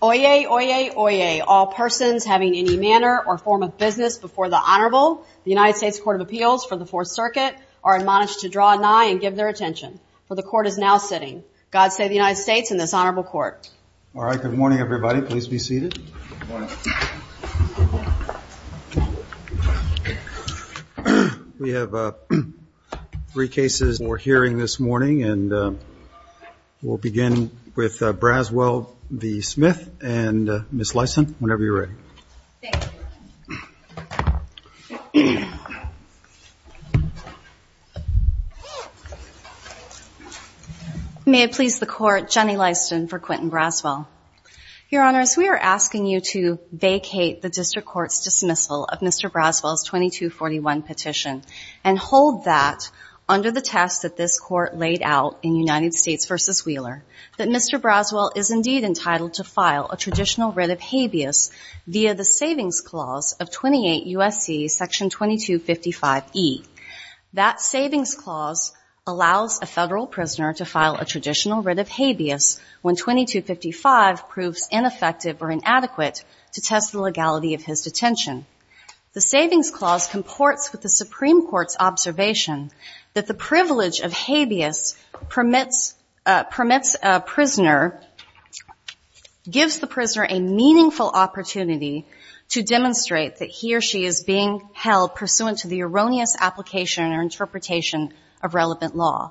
Oyez, oyez, oyez, all persons having any manner or form of business before the Honorable, the United States Court of Appeals for the Fourth Circuit, are admonished to draw nigh and give their attention, for the Court is now sitting. God save the United States and this Honorable Court. All right. Good morning, everybody. Please be seated. We have three cases we're hearing this morning and we'll begin with Braswell v. Smith and Ms. Lyson, whenever you're ready. May it please the Court, Jenny Lyson for Quentin Braswell. Your Honors, we are asking you to vacate the District Court's dismissal of Mr. Braswell's 2241 petition and hold that under the test that this Court laid out in United States v. Wheeler, that Mr. Braswell is indeed entitled to file a traditional writ of habeas via the Savings Clause of 28 U.S.C. Section 2255e. That Savings Clause allows a federal prisoner to file a traditional writ of habeas when 2255 proves ineffective or inadequate to test the legality of his detention. The Savings Clause comports with the Supreme Court's observation that the privilege of gives the prisoner a meaningful opportunity to demonstrate that he or she is being held pursuant to the erroneous application or interpretation of relevant law.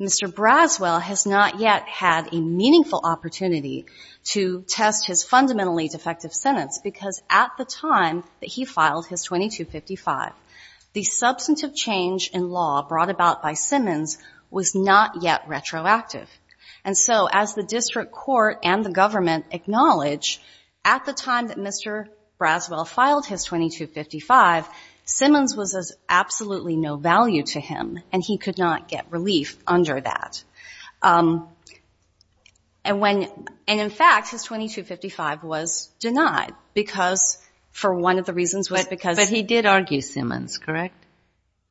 Mr. Braswell has not yet had a meaningful opportunity to test his fundamentally defective sentence because at the time that he filed his 2255, the substantive change in law brought about by Simmons was not yet retroactive. And so as the District Court and the government acknowledge, at the time that Mr. Braswell filed his 2255, Simmons was of absolutely no value to him and he could not get relief under that. And when, and in fact, his 2255 was denied because, for one of the reasons why, because he did argue Simmons, correct?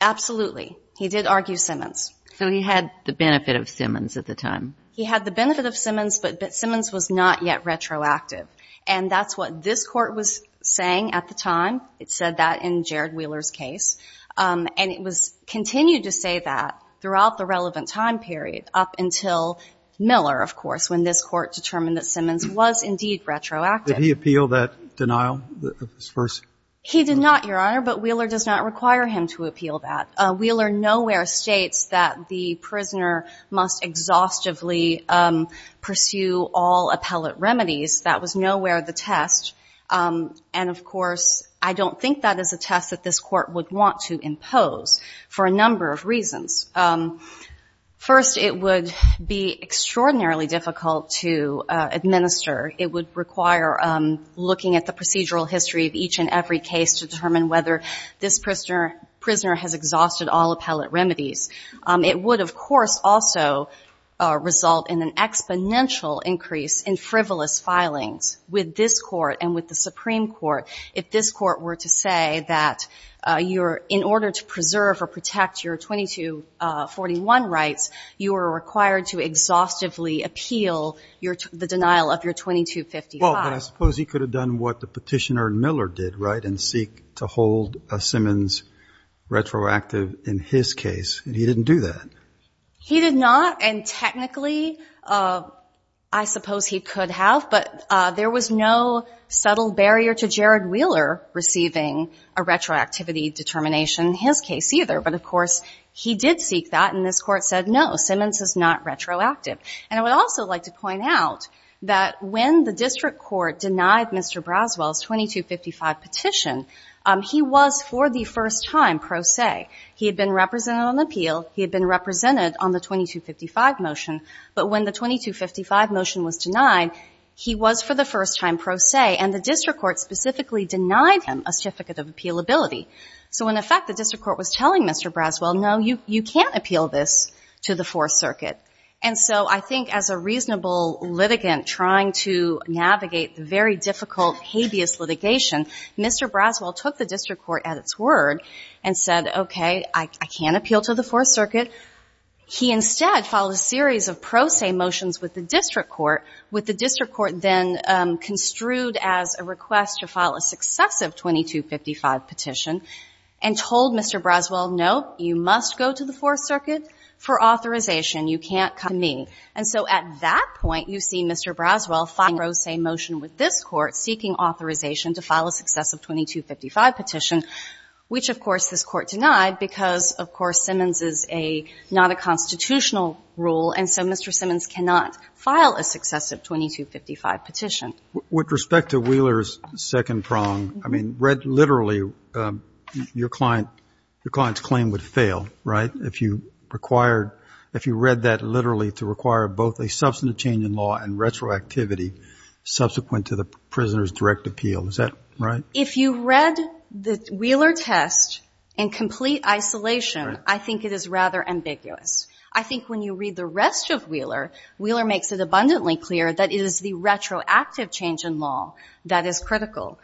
Absolutely. He did argue Simmons. So he had the benefit of Simmons at the time? He had the benefit of Simmons, but Simmons was not yet retroactive. And that's what this Court was saying at the time. It said that in Jared Wheeler's case. And it was continued to say that throughout the relevant time period up until Miller, of course, when this Court determined that Simmons was indeed retroactive. Did he appeal that denial at first? He did not, Your Honor, but Wheeler does not require him to appeal that. Wheeler nowhere states that the prisoner must exhaustively pursue all appellate remedies. That was nowhere the test. And, of course, I don't think that is a test that this Court would want to impose for a number of reasons. First, it would be extraordinarily difficult to administer. It would require looking at the procedural history of each and every case to determine whether this prisoner has exhausted all appellate remedies. It would, of course, also result in an exponential increase in frivolous filings with this Court and with the Supreme Court if this Court were to say that in order to preserve or protect your 2241 rights, you are required to exhaustively appeal the denial of your 2255. Well, but I suppose he could have done what the petitioner in Miller did, right, and seek to hold Simmons retroactive in his case, and he didn't do that. He did not, and technically I suppose he could have, but there was no subtle barrier to Jared Wheeler receiving a retroactivity determination in his case either. But, of course, he did seek that, and this Court said, no, Simmons is not retroactive. And I would also like to point out that when the district court denied Mr. Braswell's 2255 petition, he was for the first time pro se. He had been represented on appeal. He had been represented on the 2255 motion, but when the 2255 motion was denied, he was for the first time pro se, and the district court specifically denied him a certificate of appealability. So in effect, the district court was telling Mr. Braswell, no, you can't appeal this to the Fourth Circuit. And so I think as a reasonable litigant trying to navigate the very difficult habeas litigation, Mr. Braswell took the district court at its word and said, okay, I can't appeal to the Fourth Circuit. He instead filed a series of pro se motions with the district court, with the district court then construed as a request to file a successive 2255 petition and told Mr. Braswell, no, you must go to the Fourth Circuit for authorization. You can't come to me. And so at that point, you see Mr. Braswell filing a pro se motion with this Court seeking authorization to file a successive 2255 petition, which, of course, this Court denied because, of course, Simmons is not a constitutional rule, and so Mr. Simmons cannot file a successive 2255 petition. With respect to Wheeler's second prong, I mean, read literally, your client's claim would fail, right, if you read that literally to require both a substantive change in law and retroactivity subsequent to the prisoner's direct appeal. Is that right? If you read the Wheeler test in complete isolation, I think it is rather ambiguous. I think when you read the rest of Wheeler, Wheeler makes it abundantly clear that it is the retroactive change in law that is critical.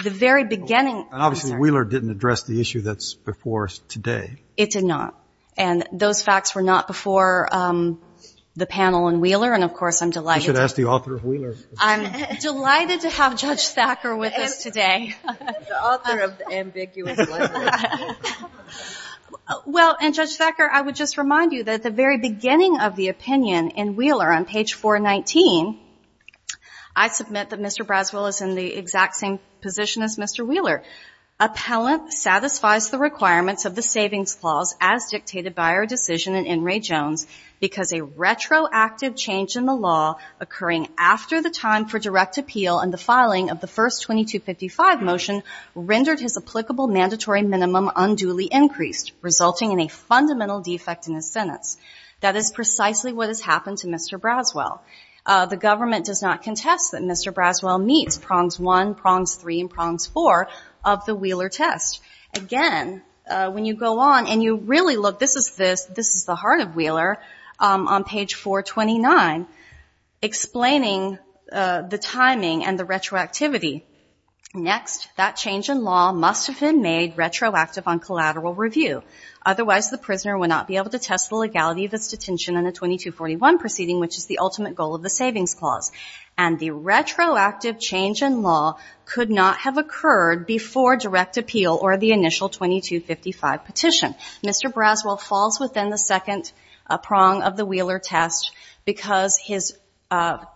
The very beginning — Obviously, Wheeler didn't address the issue that's before us today. It did not. And those facts were not before the panel in Wheeler, and, of course, I'm delighted — You should ask the author of Wheeler. I'm delighted to have Judge Thacker with us today. The author of the ambiguous legislation. Well, and, Judge Thacker, I would just remind you that at the very beginning of the opinion in Wheeler on page 419, I submit that Mr. Braswell is in the exact same position as Mr. Wheeler. Appellant satisfies the requirements of the savings clause as dictated by our decision in In re Jones because a retroactive change in the law occurring after the time for direct minimum unduly increased resulting in a fundamental defect in his sentence. That is precisely what has happened to Mr. Braswell. The government does not contest that Mr. Braswell meets prongs one, prongs three, and prongs four of the Wheeler test. Again, when you go on and you really look, this is the heart of Wheeler on page 429 explaining the timing and the retroactivity. Next, that change in law must have been made retroactive on collateral review. Otherwise, the prisoner would not be able to test the legality of his detention in a 2241 proceeding, which is the ultimate goal of the savings clause. And the retroactive change in law could not have occurred before direct appeal or the initial 2255 petition. Mr. Braswell falls within the second prong of the Wheeler test because his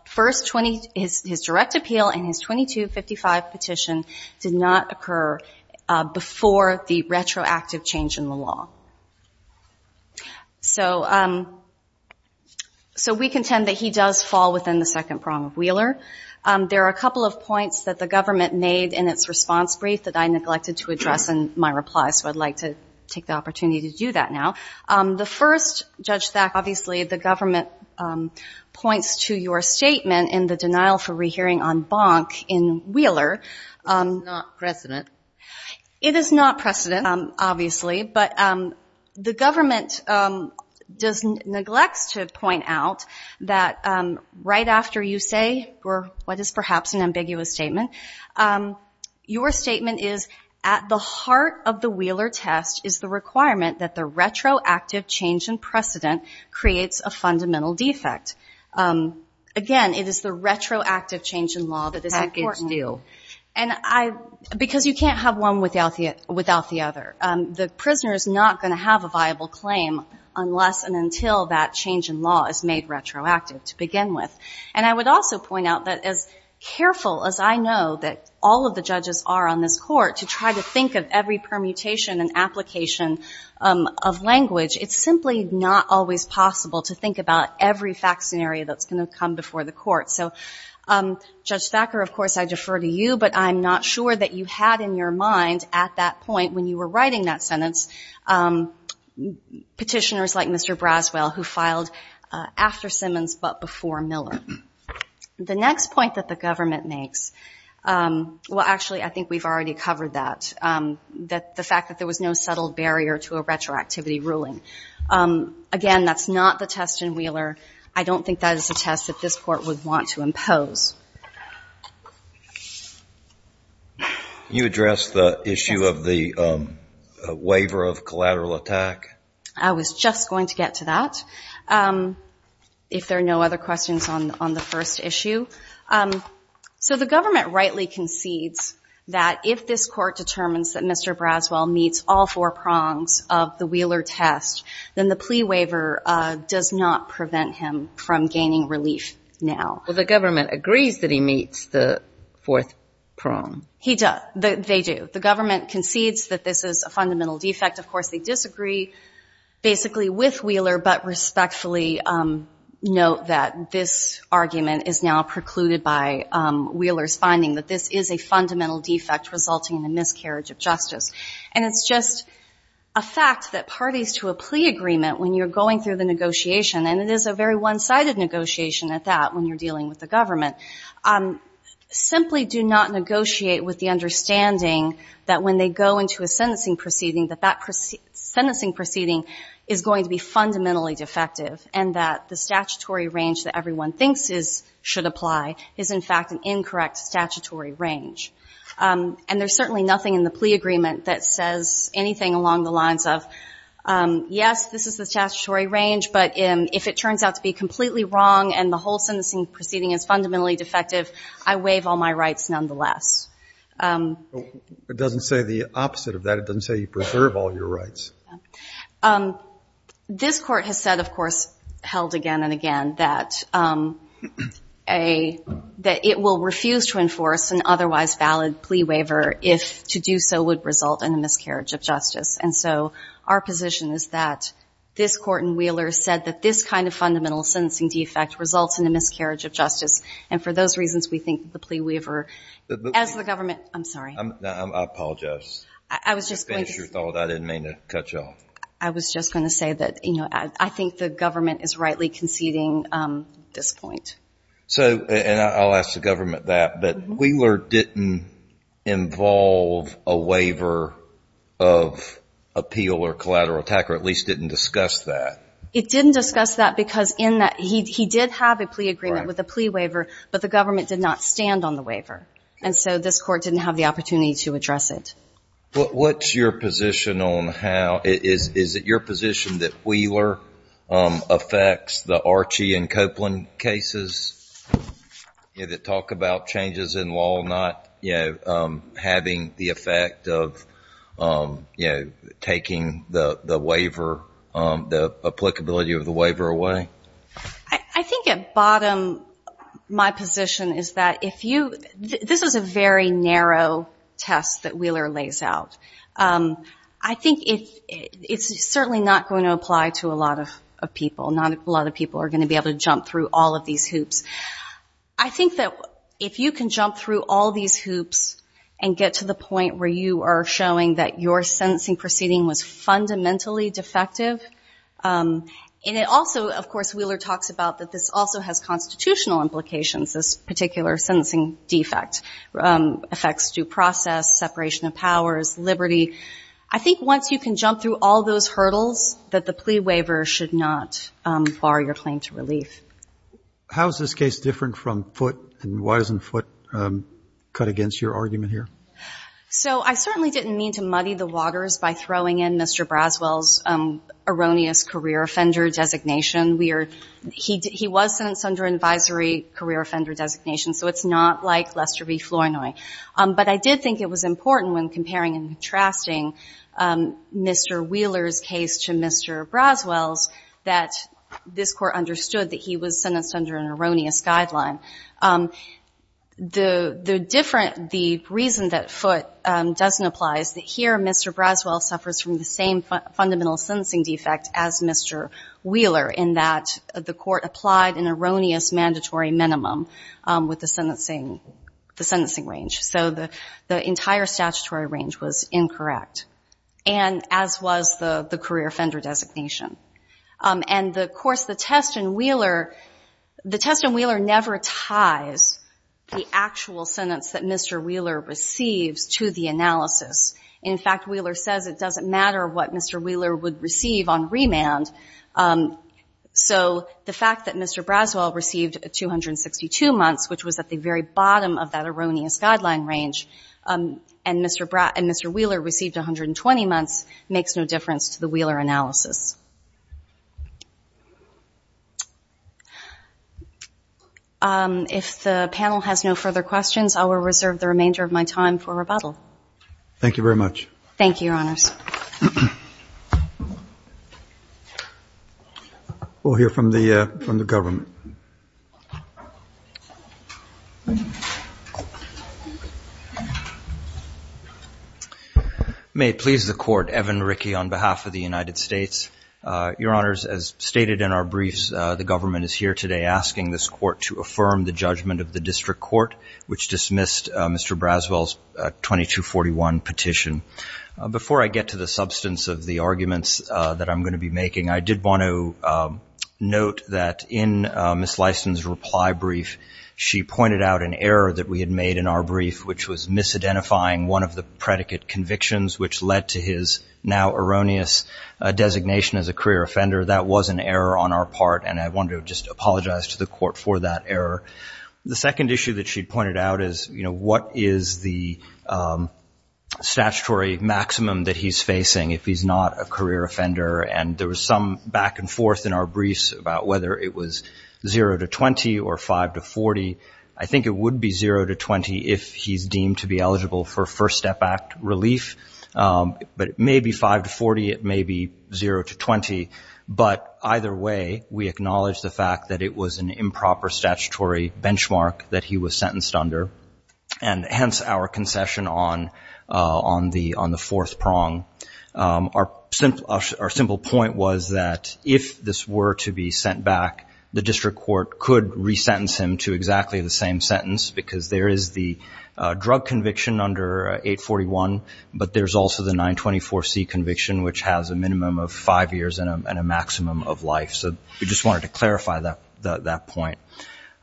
first 20, his direct appeal and his 2255 petition did not occur before the retroactive change in the law. So we contend that he does fall within the second prong of Wheeler. There are a couple of points that the government made in its response brief that I neglected to address in my reply, so I'd like to take the opportunity to do that now. The first, Judge Thack, obviously the government points to your statement in the denial for rehearing on bonk in Wheeler. It is not precedent. It is not precedent, obviously, but the government neglects to point out that right after you say what is perhaps an ambiguous statement, your statement is at the heart of the Wheeler test is the requirement that the retroactive change in precedent creates a fundamental defect. Again, it is the retroactive change in law that is important. And I, because you can't have one without the other. The prisoner is not going to have a viable claim unless and until that change in law is made retroactive to begin with. And I would also point out that as careful as I know that all of the judges are on this permutation and application of language, it's simply not always possible to think about every fact scenario that's going to come before the court. So Judge Thacker, of course I defer to you, but I'm not sure that you had in your mind at that point when you were writing that sentence, petitioners like Mr. Braswell who filed after Simmons but before Miller. The next point that the government makes, well actually I think we've already covered that. The fact that there was no settled barrier to a retroactivity ruling. Again, that's not the test in Wheeler. I don't think that is a test that this court would want to impose. You addressed the issue of the waiver of collateral attack? I was just going to get to that. If there are no other questions on the first issue. So the government rightly concedes that if this court determines that Mr. Braswell meets all four prongs of the Wheeler test, then the plea waiver does not prevent him from gaining relief now. Well the government agrees that he meets the fourth prong. He does. They do. The government concedes that this is a fundamental defect. Of course they disagree basically with Wheeler, but respectfully note that this argument is now precluded by Wheeler's finding that this is a fundamental defect resulting in a miscarriage of justice. And it's just a fact that parties to a plea agreement when you're going through the negotiation, and it is a very one-sided negotiation at that when you're dealing with the government, simply do not negotiate with the understanding that when they go into a sentencing proceeding that that sentencing proceeding is going to be fundamentally defective and that the statutory range that everyone thinks should apply is in fact an incorrect statutory range. And there's certainly nothing in the plea agreement that says anything along the lines of, yes, this is the statutory range, but if it turns out to be completely wrong and the whole sentencing proceeding is fundamentally defective, I waive all my rights nonetheless. It doesn't say the opposite of that. It doesn't say you preserve all your rights. This court has said, of course, held again and again, that it will refuse to enforce an otherwise valid plea waiver if to do so would result in a miscarriage of justice. And so our position is that this court in Wheeler said that this kind of fundamental sentencing defect results in a miscarriage of justice. And for those reasons, we think the plea waiver as the government, I'm sorry. I apologize. I was just going to... I was just going to say that, you know, I think the government is rightly conceding this point. So, and I'll ask the government that, but Wheeler didn't involve a waiver of appeal or collateral attack or at least didn't discuss that. It didn't discuss that because in that he did have a plea agreement with a plea waiver, but the government did not stand on the waiver. And so this court didn't have the opportunity to address it. What's your position on how, is it your position that Wheeler affects the Archie and Copeland cases that talk about changes in law, not, you know, having the effect of, you know, taking the waiver, the applicability of the waiver away? I think at bottom, my position is that if you, this is a very narrow test that Wheeler lays out. I think it's certainly not going to apply to a lot of people. Not a lot of people are going to be able to jump through all of these hoops. I think that if you can jump through all these hoops and get to the point where you are showing that your sentencing proceeding was fundamentally defective, and it also, of course, Wheeler talks about that this also has constitutional implications. This particular sentencing defect affects due process, separation of powers, liberty. I think once you can jump through all those hurdles, that the plea waiver should not bar your claim to relief. How is this case different from Foote? And why doesn't Foote cut against your argument here? So I certainly didn't mean to muddy the waters by throwing in Mr. Braswell's erroneous career offender designation. He was sentenced under an advisory career offender designation, so it's not like Lester v. Flournoy. But I did think it was important when comparing and contrasting Mr. Wheeler's case to Mr. Braswell's that this Court understood that he was sentenced under an erroneous guideline. The reason that Foote doesn't apply is that here Mr. Braswell suffers from the same fundamental sentencing defect as Mr. Wheeler in that the Court applied an erroneous mandatory minimum with the sentencing range. So the entire statutory range was incorrect, and as was the career offender designation. And of course, the test in Wheeler never ties the actual sentence that Mr. Wheeler receives to the analysis. In fact, Wheeler says it doesn't matter what Mr. Wheeler would receive on remand. So the fact that Mr. Braswell received 262 months, which was at the very bottom of that erroneous guideline range, and Mr. Wheeler received 120 months makes no difference to the Wheeler analysis. If the panel has no further questions, I will reserve the remainder of my time for rebuttal. Thank you very much. Thank you, Your Honors. We'll hear from the government. May it please the Court, Evan Rickey on behalf of the United States. Your Honors, as stated in our briefs, the government is here today asking this Court to affirm the judgment of the District Court, which dismissed Mr. Braswell's 2241 petition. Before I get to the substance of the arguments that I'm going to be making, I did want to note that in Ms. Lysen's reply brief, she pointed out an error that we had made in our brief, which was misidentifying one of the predicate convictions, which led to his now erroneous designation as a career offender. That was an error on our part, and I wanted to just apologize to the Court for that error. The second issue that she pointed out is, you know, what is the statutory maximum that Mr. Braswell should be eligible for? I think it would be zero to 20 if he's deemed to be eligible for First Step Act relief, but it may be five to 40, it may be zero to 20, but either way, we acknowledge the fact that it was an improper statutory benchmark that he was sentenced under, and hence our concession on the fourth prong. Our simple point was that if this were to be sent back, the district court could resentence him to exactly the same sentence, because there is the drug conviction under 841, but there's also the 924C conviction, which has a minimum of five years and a maximum of life. So we just wanted to clarify that point.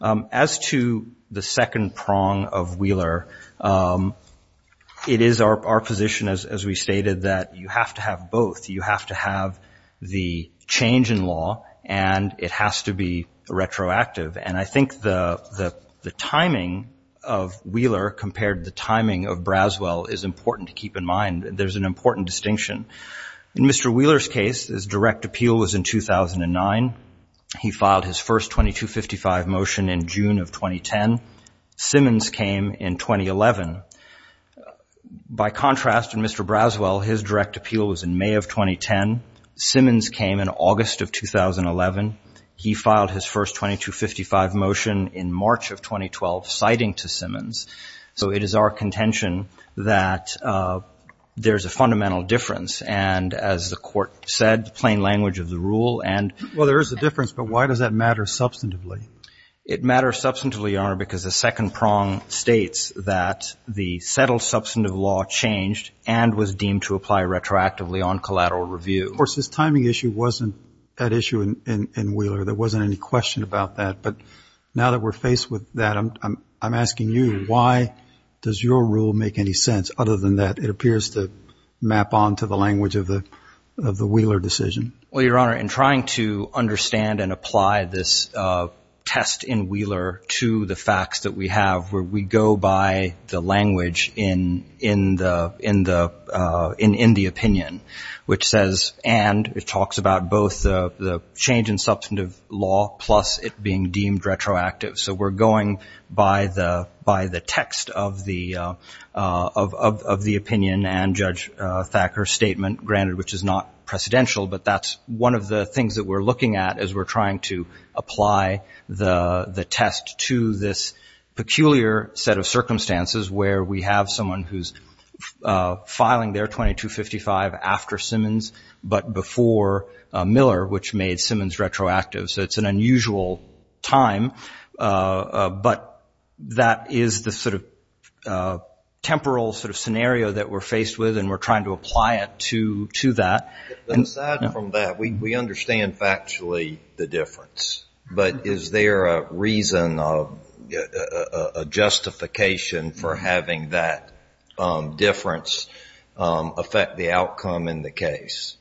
As to the second prong of Wheeler, it is our position, as we stated, that you have to have both. You have to have the change in law, and it has to be retroactive, and I think the timing of Wheeler compared to the timing of Braswell is important to keep in mind. There's an important distinction. In Mr. Wheeler's case, his direct appeal was in 2009. He filed his first 2255 motion in June of 2010. Simmons came in 2011. By contrast, in Mr. Braswell, his direct appeal was in May of 2010. Simmons came in August of 2011. He filed his first 2255 motion in March of 2012, citing to Simmons. So it is our contention that there's a fundamental difference, and as the court said, plain language of the rule and ---- Well, there is a difference, but why does that matter substantively? It matters substantively, Your Honor, because the second prong states that the settled in Wheeler. There wasn't any question about that. But now that we're faced with that, I'm asking you, why does your rule make any sense? Other than that, it appears to map on to the language of the Wheeler decision. Well, Your Honor, in trying to understand and apply this test in Wheeler to the facts that we have, we go by the language in the opinion, which says, and it talks about both the change in substantive law plus it being deemed retroactive. So we're going by the text of the opinion and Judge Thacker's statement, granted, which is not precedential, but that's one of the things that we're looking at as we're trying to apply the test to this peculiar set of circumstances where we have someone who's filing their 2255 after Simmons but before Miller, which made Simmons retroactive. So it's an unusual time, but that is the sort of temporal sort of scenario that we're faced with, and we're trying to apply it to that. Aside from that, we understand factually the difference, but is there a reason, a justification for having that difference affect the outcome in the case?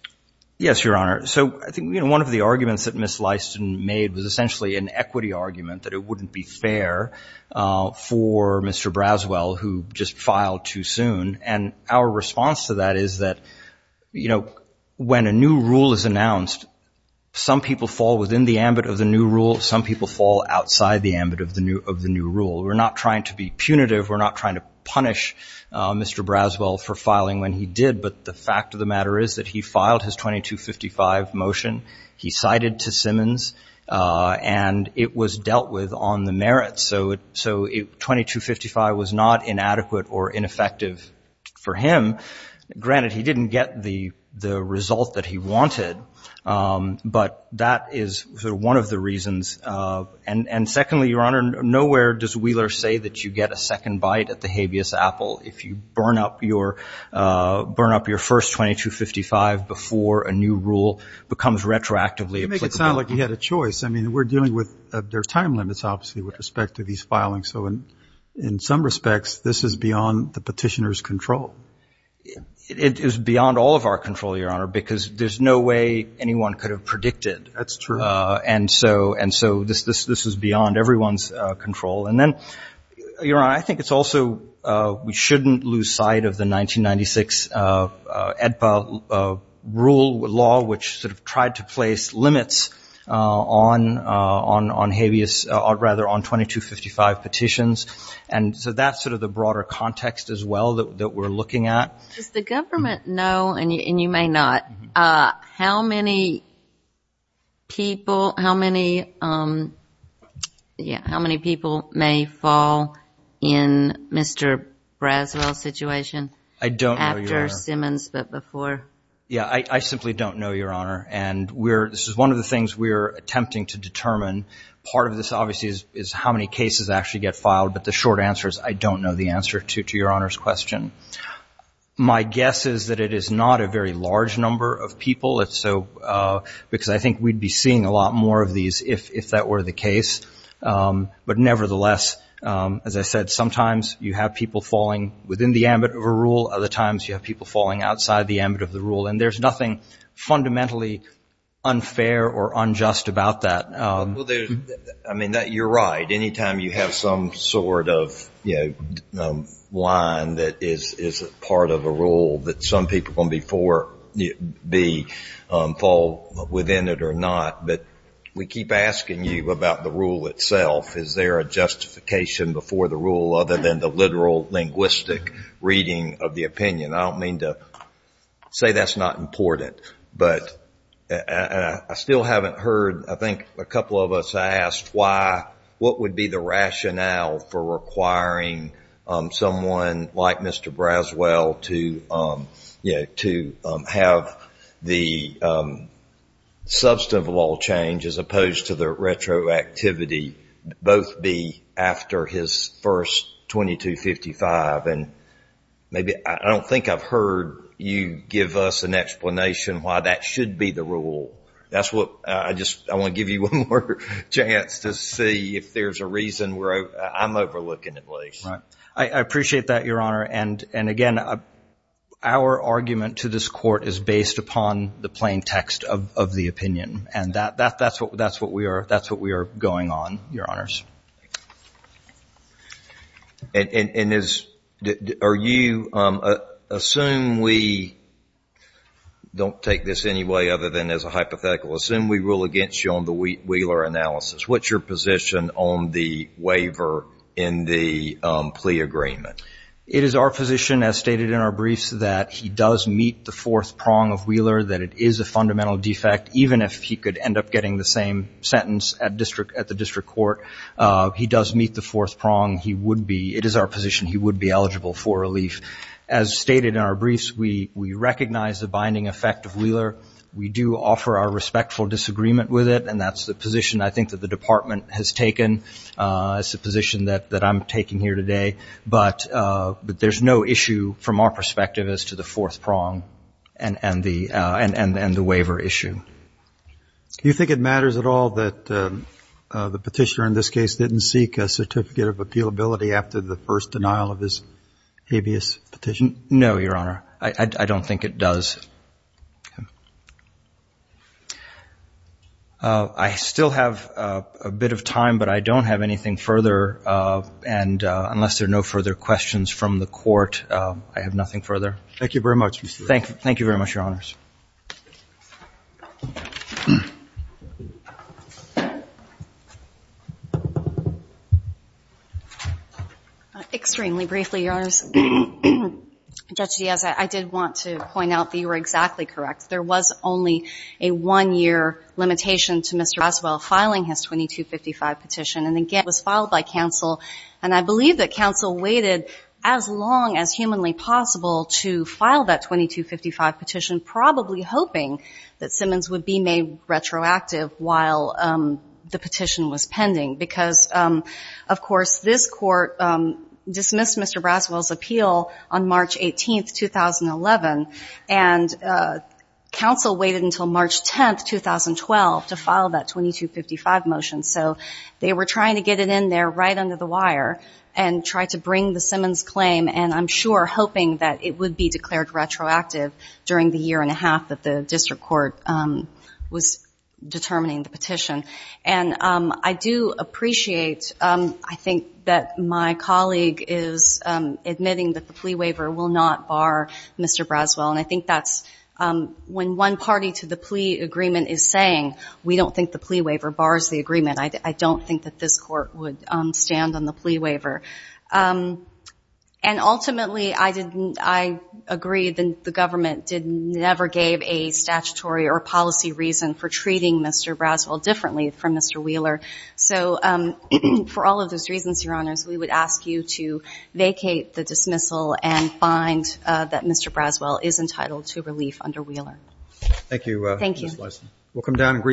Yes, Your Honor. So I think one of the arguments that Ms. Lyston made was essentially an equity argument that it wouldn't be fair for Mr. Braswell, who just filed too soon. And our response to that is that when a new rule is announced, some people fall within the ambit of the new rule. Some people fall outside the ambit of the new rule. We're not trying to be punitive. We're not trying to punish Mr. Braswell for filing when he did. But the fact of the matter is that he filed his 2255 motion. He cited to Simmons and it was dealt with on the merits. So 2255 was not inadequate or ineffective for him. Granted, he didn't get the result that he wanted, but that is one of the reasons. And secondly, Your Honor, nowhere does Wheeler say that you get a second bite at the habeas apple if you burn up your first 2255 before a new rule becomes retroactively applicable. It didn't sound like he had a choice. I mean, we're dealing with their time limits, obviously, with respect to these filings. So in some respects, this is beyond the petitioner's control. It is beyond all of our control, Your Honor, because there's no way anyone could have predicted. That's true. And so this is beyond everyone's control. And then, Your Honor, I think it's also we shouldn't lose sight of the 1996 EDPA rule law, which sort of tried to place limits on habeas, or rather on 2255 petitions. And so that's sort of the broader context as well that we're looking at. Does the government know, and you may not, how many people may fall in Mr. Braswell's situation after Simmons, but before? Yeah, I simply don't know, Your Honor. And this is one of the things we're attempting to determine. Part of this, obviously, is how many cases actually get filed, but the short answer is I don't know the answer to Your Honor's question. My guess is that it is not a very large number of people, because I think we'd be seeing a lot more of these if that were the case. But nevertheless, as I said, sometimes you have people falling within the ambit of a rule. Other times you have people falling outside the ambit of the rule. And there's nothing fundamentally unfair or unjust about that. Well, I mean, you're right. Anytime you have some sort of line that is part of a rule, that some people fall within it or not. But we keep asking you about the rule itself. Is there a justification before the rule other than the literal linguistic reading of the opinion? I don't mean to say that's not important, but I still haven't heard. I think a couple of us asked what would be the rationale for requiring someone like Mr. Braswell to have the substantive law change as opposed to the retroactivity, both be after his first 2255. And I don't think I've heard you give us an explanation why that should be the rule. I want to give you one more chance to see if there's a reason I'm overlooking at least. I appreciate that, Your Honor. And again, our argument to this Court is based upon the plain text of the opinion. And that's what we are going on, Your Honors. And are you, assume we don't take this any way other than as a hypothetical. Assume we rule against you on the Wheeler analysis. What's your position on the waiver in the plea agreement? It is our position, as stated in our briefs, that he does meet the fourth prong of Wheeler, that it is a fundamental defect, even if he could end up getting the same sentence at the district court. He does meet the fourth prong. It is our position he would be eligible for relief. As stated in our briefs, we recognize the binding effect of Wheeler. We do offer our respectful disagreement with it, and that's the position I think that the Department has taken. It's the position that I'm taking here today. But there's no issue from our perspective as to the fourth prong and the waiver issue. Do you think it matters at all that the Petitioner in this case didn't seek a certificate of appealability after the first denial of his habeas petition? No, Your Honor. I don't think it does. I still have a bit of time, but I don't have anything further. And unless there are no further questions from the Court, I have nothing further. Thank you very much. Thank you very much, Your Honors. Extremely briefly, Your Honors. Judge Diaz, I did want to point out that you were exactly correct. There was only a one-year limitation to Mr. Roswell filing his 2255 petition, and again, it was filed by counsel, and I believe that counsel waited as long as humanly possible to file that 2255 petition, probably hoping that Simmons would be made retroactive while the petition was pending. Because, of course, this Court dismissed Mr. Roswell's appeal on March 18, 2011, and counsel waited until March 10, 2012, to file that 2255 motion. So they were trying to get it in there right under the wire and try to bring the Simmons claim, and I'm sure hoping that it would be declared retroactive during the year-and-a-half that the district court was determining the petition. And I do appreciate, I think, that my colleague is admitting that the plea waiver will not bar Mr. Roswell, and I think that's when one party to the plea agreement is saying, we don't think the plea waiver bars the agreement, I don't think that this Court would stand on the plea waiver. And ultimately, I agree that the government never gave a statutory or policy reason for treating Mr. Roswell differently from Mr. Wheeler. So for all of those reasons, Your Honors, we would ask you to vacate the dismissal and find that Mr. Roswell is entitled to relief under Wheeler. Thank you, Justice Leisman.